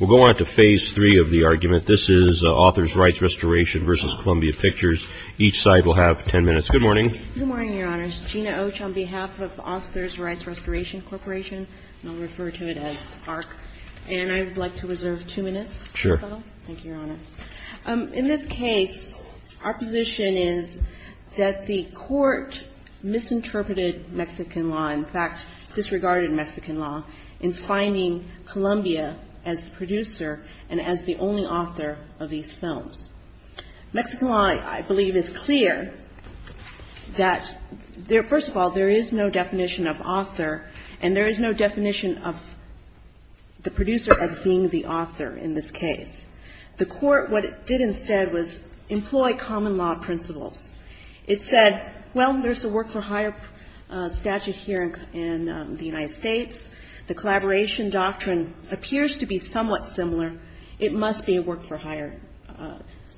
We'll go on to phase three of the argument. This is AUTHORS RIGHTS RESTORATION v. COLUMBIA PICTURES. Each side will have ten minutes. Good morning. Good morning, Your Honors. Gina Oche on behalf of AUTHORS RIGHTS RESTORATION CORPORATION, and I'll refer to it as ARC. And I would like to reserve two minutes. Sure. Thank you, Your Honor. In this case, our position is that the court misinterpreted Mexican law, in fact, disregarded Mexican law, in finding Columbia as the producer and as the only author of these films. Mexican law, I believe, is clear that, first of all, there is no definition of author, and there is no definition of the producer as being the author in this case. The court, what it did instead, was employ common law principles. It said, well, there's a work-for-hire statute here in the United States. The collaboration doctrine appears to be somewhat similar. It must be a work-for-hire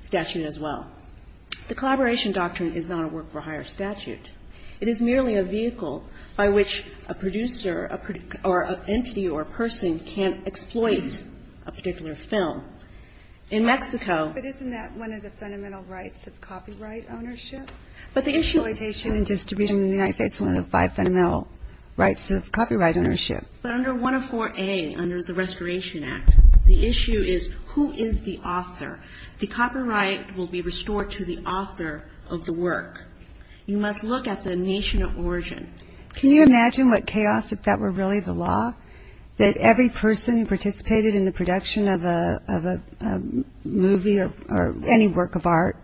statute as well. The collaboration doctrine is not a work-for-hire statute. It is merely a vehicle by which a producer or an entity or a person can exploit a particular film. In Mexico ---- But isn't that one of the fundamental rights of copyright ownership? But the issue ---- Exploitation and distribution in the United States is one of the five fundamental rights of copyright ownership. But under 104A, under the Restoration Act, the issue is who is the author. The copyright will be restored to the author of the work. You must look at the nation of origin. Can you imagine what chaos if that were really the law, that every person who participated in the production of a movie or any work of art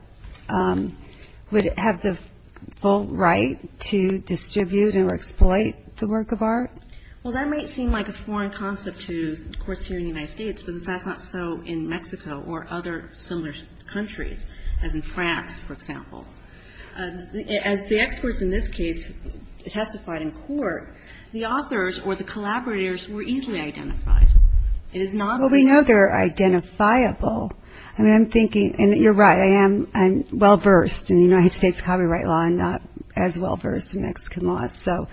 would have the full right to distribute or exploit the work of art? Well, that might seem like a foreign concept to courts here in the United States, but it's not so in Mexico or other similar countries, as in this case testified in court, the authors or the collaborators were easily identified. It is not ---- Well, we know they're identifiable. I mean, I'm thinking, and you're right, I am well-versed in the United States copyright law and not as well-versed in Mexican law. So,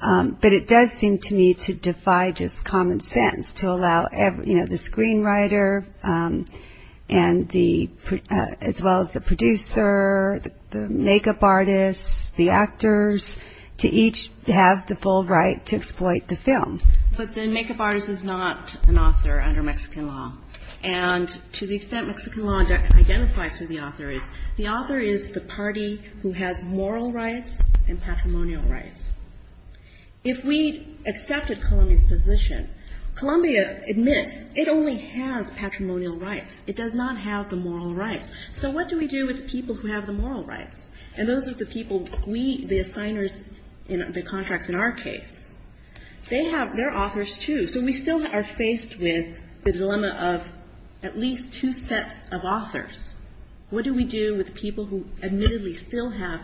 but it does seem to me to defy just common sense to allow, you know, the screenwriter and the, as well as the producer, the makeup artists, the actors, to each have the full right to exploit the film. But the makeup artist is not an author under Mexican law. And to the extent Mexican law identifies who the author is, the author is the party who has moral rights and patrimonial rights. If we accepted Colombia's position, Colombia admits it only has patrimonial rights. It does not have the moral rights. So what do we do with the people who have the moral rights? And those are the people we, the assigners in the contracts in our case. They have, they're authors, too. So we still are faced with the dilemma of at least two sets of authors. What do we do with people who admittedly still have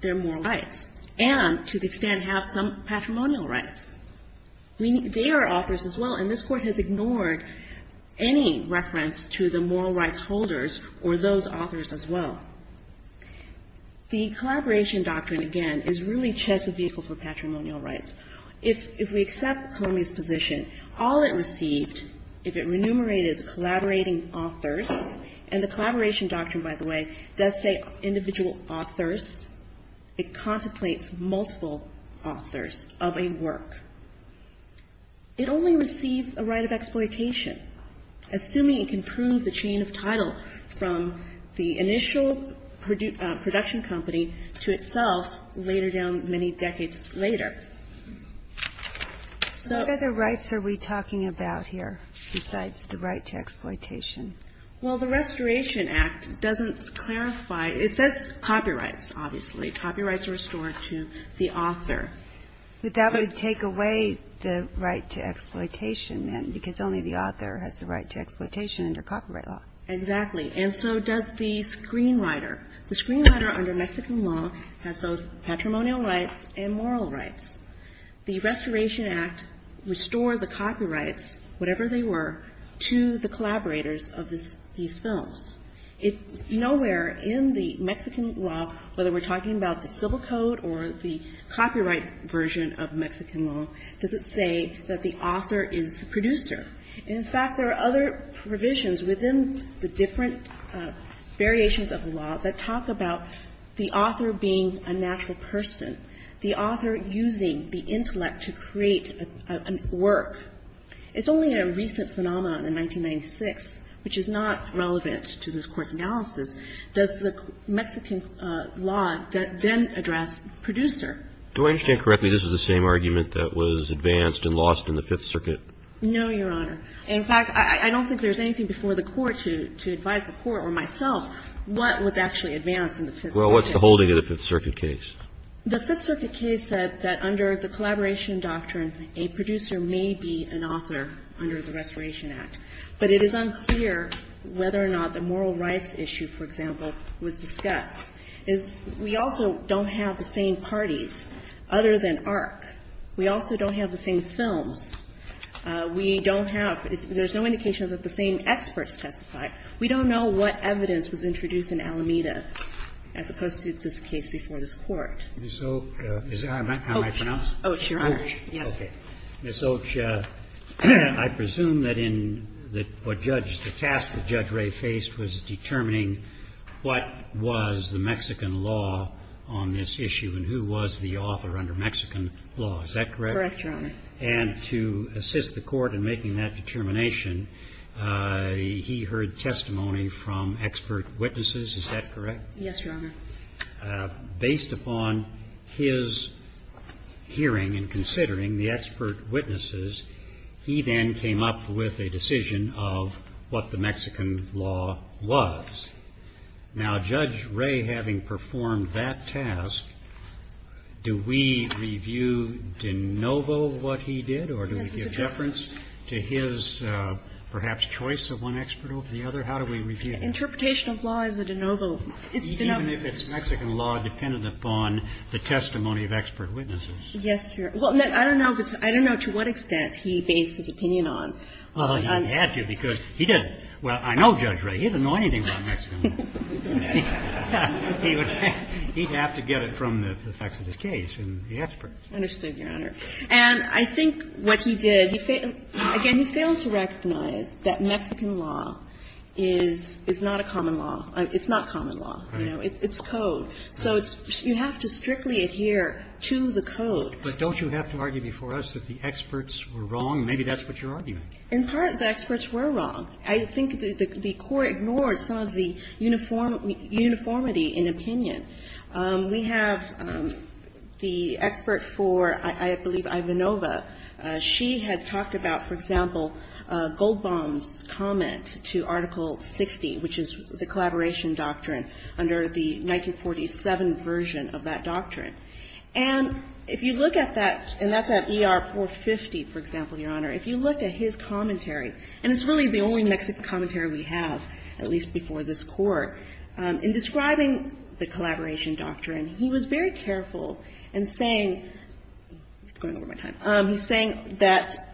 their moral rights and to the extent have some patrimonial rights? I mean, they are authors as well, and this Court has ignored any reference to the moral rights holders or those authors as well. The collaboration doctrine, again, is really just a vehicle for patrimonial rights. If we accept Colombia's position, all it received, if it remunerated its collaborating authors, and the collaboration doctrine, by the way, does say individual authors. It contemplates multiple authors of a work. It only received a right of exploitation, assuming it can prove the chain of title from the initial production company to itself later down many decades later. So what other rights are we talking about here besides the right to exploitation? Well, the Restoration Act doesn't clarify. It says copyrights, obviously. Copyrights are restored to the author. But that would take away the right to exploitation, then, because only the author has the right to exploitation under copyright law. Exactly. And so does the screenwriter. The screenwriter under Mexican law has both patrimonial rights and moral rights. The Restoration Act restored the copyrights, whatever they were, to the collaborators of these films. Nowhere in the Mexican law, whether we're talking about the civil code or the copyright version of Mexican law, does it say that the author is the producer. In fact, there are other provisions within the different variations of the law that talk about the author being a natural person, the author using the intellect to create a work. It's only in a recent phenomenon in 1996, which is not relevant to this Court's analysis, does the Mexican law then address producer. Do I understand correctly this is the same argument that was advanced and lost in the Fifth Circuit? No, Your Honor. In fact, I don't think there's anything before the Court to advise the Court or myself what was actually advanced in the Fifth Circuit. Well, what's holding it in the Fifth Circuit case? The Fifth Circuit case said that under the collaboration doctrine, a producer may be an author under the Restoration Act. But it is unclear whether or not the moral rights issue, for example, was discussed. We also don't have the same parties other than ARC. We also don't have the same films. We don't have – there's no indication that the same experts testified. We don't know what evidence was introduced in Alameda as opposed to this case before this Court. Ms. Oaks, is that how I pronounce? Oaks, Your Honor. Oaks, okay. Ms. Oaks, I presume that in what Judge – the task that Judge Ray faced was determining what was the Mexican law on this issue and who was the author under Mexican law. Is that correct? Correct, Your Honor. And to assist the Court in making that determination, he heard testimony from expert witnesses. Is that correct? Yes, Your Honor. Based upon his hearing and considering the expert witnesses, he then came up with a decision of what the Mexican law was. Now, Judge Ray, having performed that task, do we review de novo what he did or do we give deference to his perhaps choice of one expert over the other? How do we review that? Interpretation of law is a de novo. Even if it's Mexican law, dependent upon the testimony of expert witnesses. Yes, Your Honor. Well, I don't know to what extent he based his opinion on. Well, he had to because he didn't. Well, I know Judge Ray. He doesn't know anything about Mexican law. He would have to get it from the facts of his case and the experts. Understood, Your Honor. And I think what he did, again, he failed to recognize that Mexican law is not a common law. It's not common law. It's code. So you have to strictly adhere to the code. But don't you have to argue before us that the experts were wrong? Maybe that's what you're arguing. In part, the experts were wrong. I think the Court ignores some of the uniformity in opinion. We have the expert for, I believe, Ivanova. She had talked about, for example, Goldbaum's comment to Article 60, which is the collaboration doctrine under the 1947 version of that doctrine. And if you look at that, and that's at ER 450, for example, Your Honor. If you looked at his commentary, and it's really the only Mexican commentary we have, at least before this Court, in describing the collaboration doctrine, he was very careful in saying going over my time. He's saying that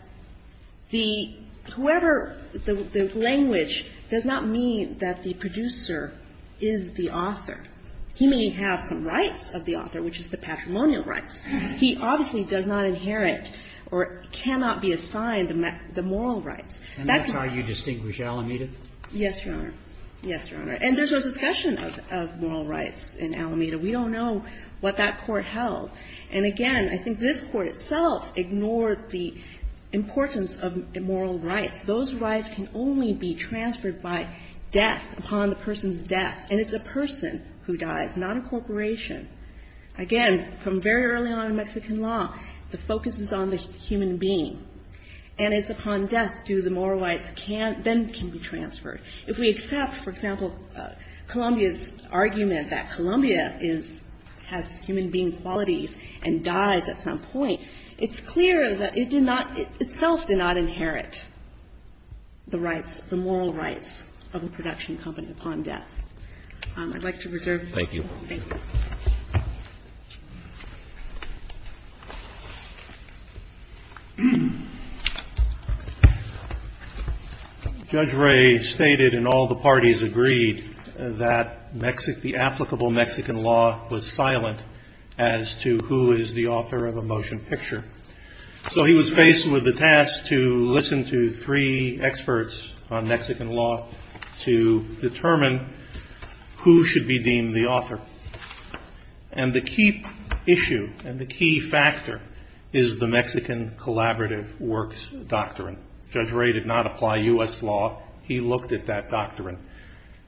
the whoever, the language does not mean that the producer is the author. He may have some rights of the author, which is the patrimonial rights. He obviously does not inherit or cannot be assigned the moral rights. And that's how you distinguish Alameda? Yes, Your Honor. Yes, Your Honor. And there's no discussion of moral rights in Alameda. We don't know what that Court held. And again, I think this Court itself ignored the importance of moral rights. Those rights can only be transferred by death upon the person's death. And it's a person who dies, not a corporation. Again, from very early on in Mexican law, the focus is on the human being. And it's upon death do the moral rights then can be transferred. If we accept, for example, Columbia's argument that Columbia has human being qualities and dies at some point, it's clear that it did not, itself did not inherit the rights, the moral rights of a production company upon death. I'd like to reserve the floor. Thank you. Judge Ray stated and all the parties agreed that the applicable Mexican law was silent as to who is the author of a motion picture. So he was faced with the task to listen to three experts on Mexican law to determine who should be deemed the author. And the key issue and the key factor is the Mexican collaborative works doctrine. Judge Ray did not apply U.S. law. He looked at that doctrine.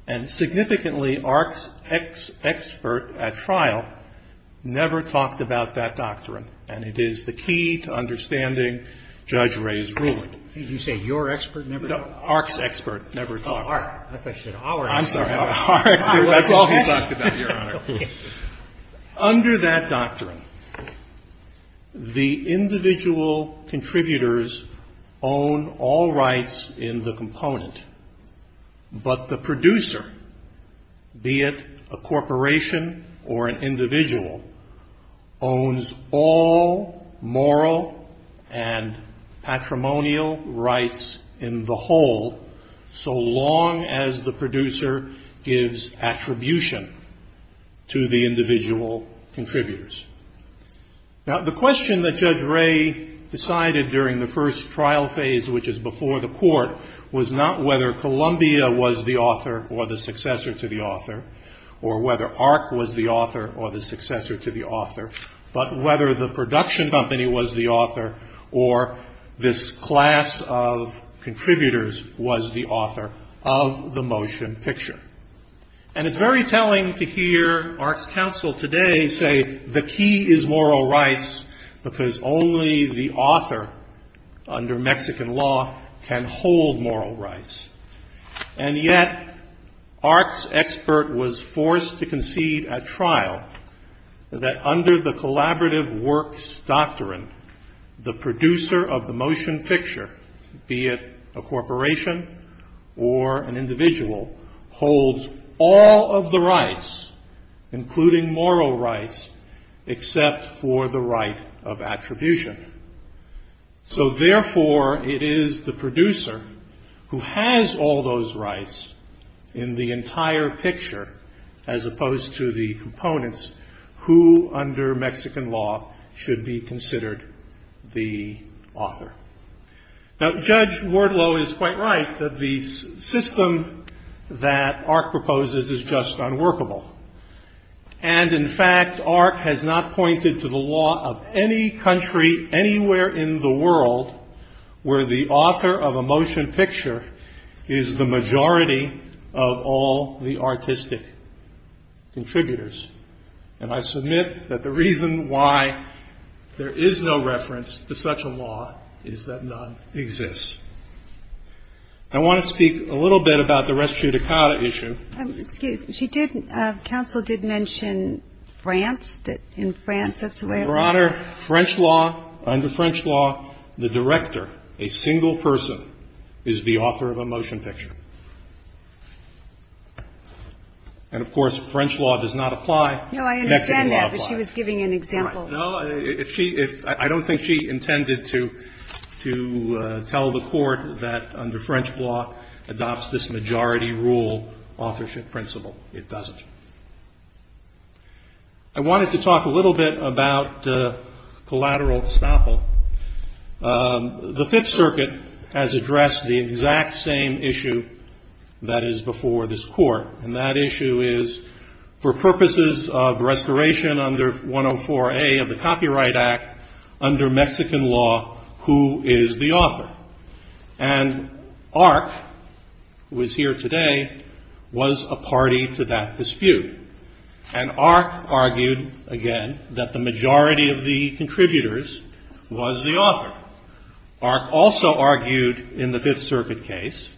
And significantly, ARC's expert at trial never talked about that doctrine. And it is the key to understanding Judge Ray's ruling. Did you say your expert never talked? No, ARC's expert never talked. Oh, ARC. I thought you said our expert. I'm sorry, our expert. That's all he talked about, Your Honor. Under that doctrine, the individual contributors own all rights in the component. But the producer, be it a corporation or an individual, owns all moral and patrimonial rights in the whole so long as the producer gives attribution to the individual contributors. Now, the question that Judge Ray decided during the first trial phase, which is before the court, was not whether Columbia was the author or the successor to the author, or whether ARC was the author or the successor to the author, but whether the production company was the author or this class of contributors was the author of the motion picture. And it's very telling to hear ARC's counsel today say the key is moral rights because only the author, under Mexican law, can hold moral rights. And yet, ARC's expert was forced to concede at trial that under the collaborative works doctrine, the producer of the motion picture, be it a corporation or an individual, holds all of the rights, including moral rights, except for the right of attribution. So therefore, it is the producer who has all those rights in the entire picture, as opposed to the components who, under Mexican law, should be considered the author. Now, Judge Wardlow is quite right that the system that ARC proposes is just unworkable. And in fact, ARC has not pointed to the law of any country anywhere in the world where the author of a motion picture is the majority of all the artistic contributors. And I submit that the reason why there is no reference to such a law is that none exists. I want to speak a little bit about the res judicata issue. Excuse me. She did, counsel did mention France, that in France that's the way it was. Your Honor, French law, under French law, the director, a single person, is the author of a motion picture. And of course, French law does not apply. No, I understand that, but she was giving an example. No, I don't think she intended to tell the Court that under French law adopts this majority rule authorship principle. It doesn't. I wanted to talk a little bit about collateral estoppel. The Fifth Circuit has addressed the exact same issue that is before this Court, and that issue is for purposes of restoration under 104A of the Copyright Act, under Mexican law, who is the author? And ARC, who is here today, was a party to that dispute. And ARC argued, again, that the majority of the contributors was the author. ARC also argued in the Fifth Circuit case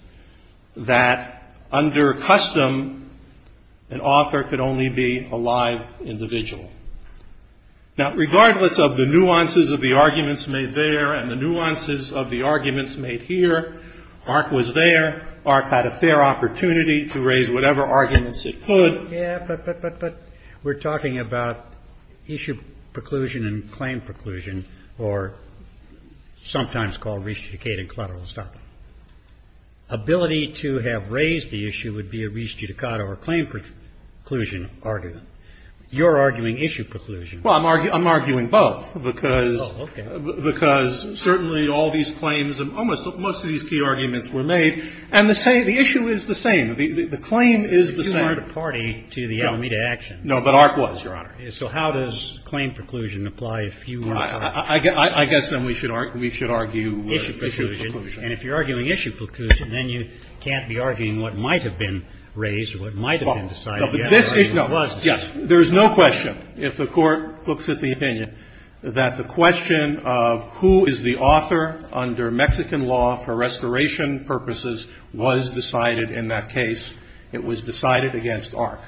that under custom, an author could only be a live individual. Now, regardless of the nuances of the arguments made there and the nuances of the arguments made here, ARC was there. ARC had a fair opportunity to raise whatever arguments it could. Yeah, but we're talking about issue preclusion and claim preclusion, or sometimes called restituted collateral estoppel. Ability to have raised the issue would be a restitutado or claim preclusion argument. You're arguing issue preclusion. Well, I'm arguing both, because certainly all these claims and almost most of these key arguments were made. And the issue is the same. The claim is the same. But ARC wasn't a party to the Alameda action. No, but ARC was, Your Honor. So how does claim preclusion apply if you were ARC? I guess then we should argue issue preclusion. And if you're arguing issue preclusion, then you can't be arguing what might have been raised or what might have been decided. No, but this is no. Yes. There is no question, if the Court looks at the opinion, that the question of who is the author under Mexican law for restoration purposes was decided in that case. It was decided against ARC.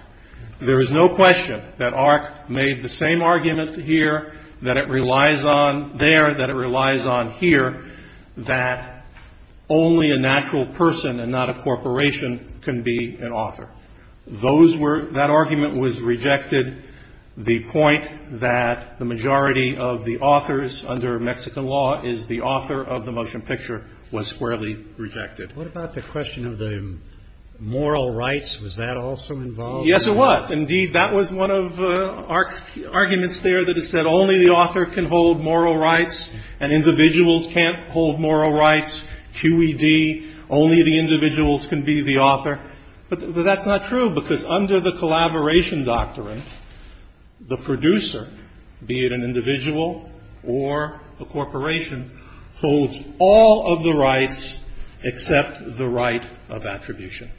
There is no question that ARC made the same argument here, that it relies on there, that it relies on here, that only a natural person and not a corporation can be an author. That argument was rejected. The point that the majority of the authors under Mexican law is the author of the motion picture was squarely rejected. What about the question of the moral rights? Was that also involved? Yes, it was. Indeed, that was one of ARC's arguments there that it said only the author can hold moral rights and individuals can't hold moral rights, QED, only the individuals can be the author. But that's not true, because under the collaboration doctrine, the producer, be it an individual or a corporation, holds all of the rights except the right of attribution.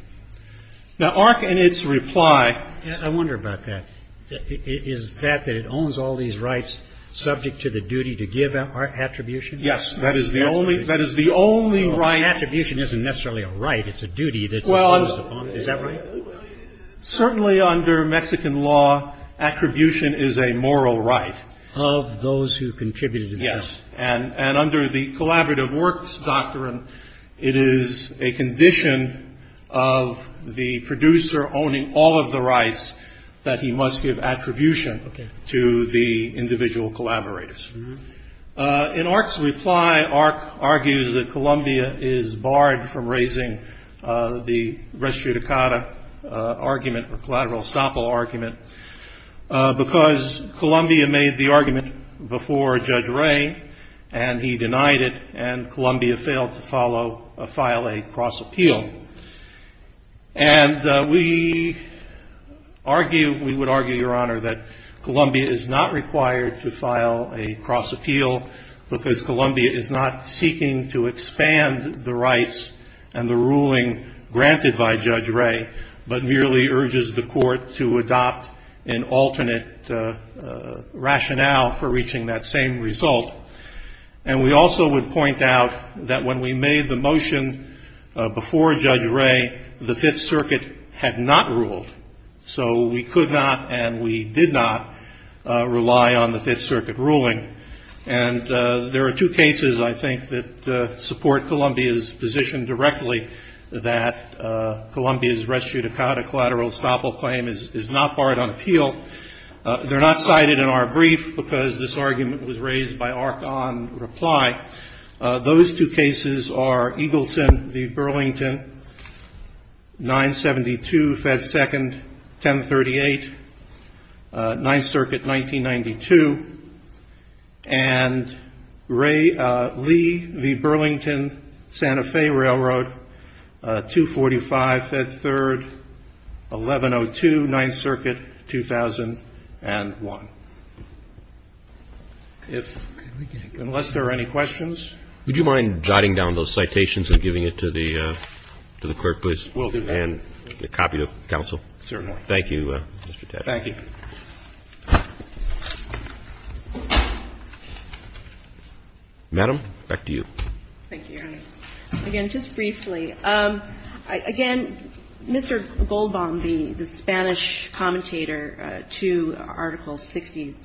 Now, ARC in its reply. I wonder about that. Is that that it owns all these rights subject to the duty to give attribution? Yes, that is the only right. But attribution isn't necessarily a right. It's a duty that's imposed upon it. Is that right? Certainly under Mexican law, attribution is a moral right. Of those who contributed to that. Yes. And under the collaborative works doctrine, it is a condition of the producer owning all of the rights that he must give attribution to the individual collaborators. In ARC's reply, ARC argues that Columbia is barred from raising the res judicata argument, or collateral estoppel argument, because Columbia made the argument before Judge Ray, and he denied it, and Columbia failed to file a cross appeal. And we argue, we would argue, Your Honor, that Columbia is not required to file a cross appeal because Columbia is not seeking to expand the rights and the ruling granted by Judge Ray, but merely urges the court to adopt an alternate rationale for reaching that same result. And we also would point out that when we made the motion before Judge Ray, the Fifth Circuit had not ruled. So we could not and we did not rely on the Fifth Circuit ruling. And there are two cases, I think, that support Columbia's position directly that Columbia's res judicata collateral estoppel claim is not barred on appeal. They're not cited in our brief because this argument was raised by ARC on reply. Those two cases are Eagleson v. Burlington, 972 Fed 2nd, 1038, Ninth Circuit, 1992, and Lee v. Burlington, Santa Fe Railroad, 245 Fed 3rd, 1102, Ninth Circuit, 2001. If, unless there are any questions. Roberts. Would you mind jotting down those citations and giving it to the clerk, please? We'll do that. And a copy to counsel. Certainly. Thank you, Mr. Tedder. Thank you. Madam, back to you. Thank you, Your Honor. Again, just briefly, again, Mr. Goldbaum, the Spanish commentator to Article 60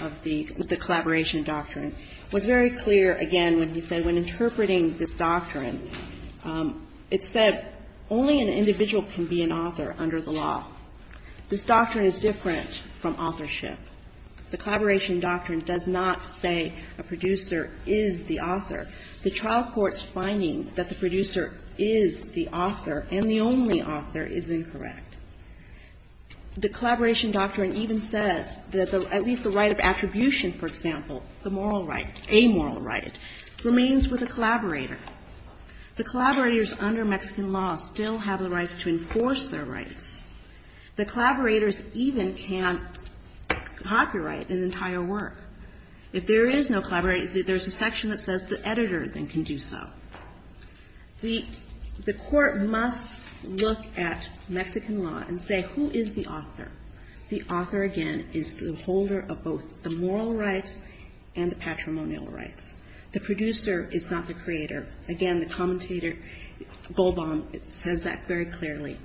of the Collaboration Doctrine, was very clear, again, when he said when interpreting this doctrine, it said only an individual can be an author under the law. This doctrine is different from authorship. The Collaboration Doctrine does not say a producer is the author. The trial court's finding that the producer is the author and the only author is incorrect. The Collaboration Doctrine even says that at least the right of attribution, for example, the moral right, a moral right, remains with a collaborator. The collaborators under Mexican law still have the rights to enforce their rights. The collaborators even can't copyright an entire work. If there is no collaborator, there's a section that says the editor then can do so. The court must look at Mexican law and say who is the author. The author, again, is the holder of both the moral rights and the patrimonial rights. The producer is not the creator. Again, the commentator, Goldbaum, says that very clearly.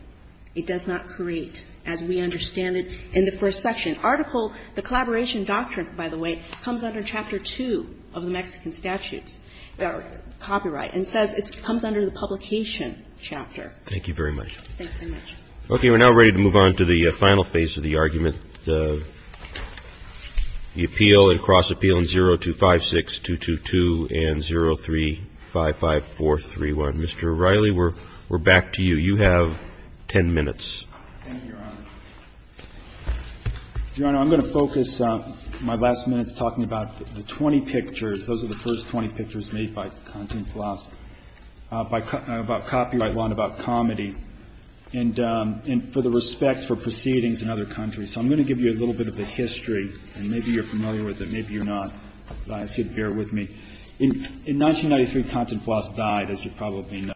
It does not create, as we understand it in the first section. Article, the Collaboration Doctrine, by the way, comes under Chapter 2 of the Mexican Statutes, or copyright, and says it comes under the publication chapter. Thank you very much. Thank you very much. Okay. We're now ready to move on to the final phase of the argument. The appeal and cross-appeal in 0256, 222, and 0355431. Mr. O'Reilly, we're back to you. You have 10 minutes. Thank you, Your Honor. Your Honor, I'm going to focus my last minutes talking about the 20 pictures. Those are the first 20 pictures made by Continflas about copyright law and about comedy, and for the respect for proceedings in other countries. So I'm going to give you a little bit of the history, and maybe you're familiar with it, maybe you're not. I ask you to bear with me. In 1993, Continflas died, as you probably know.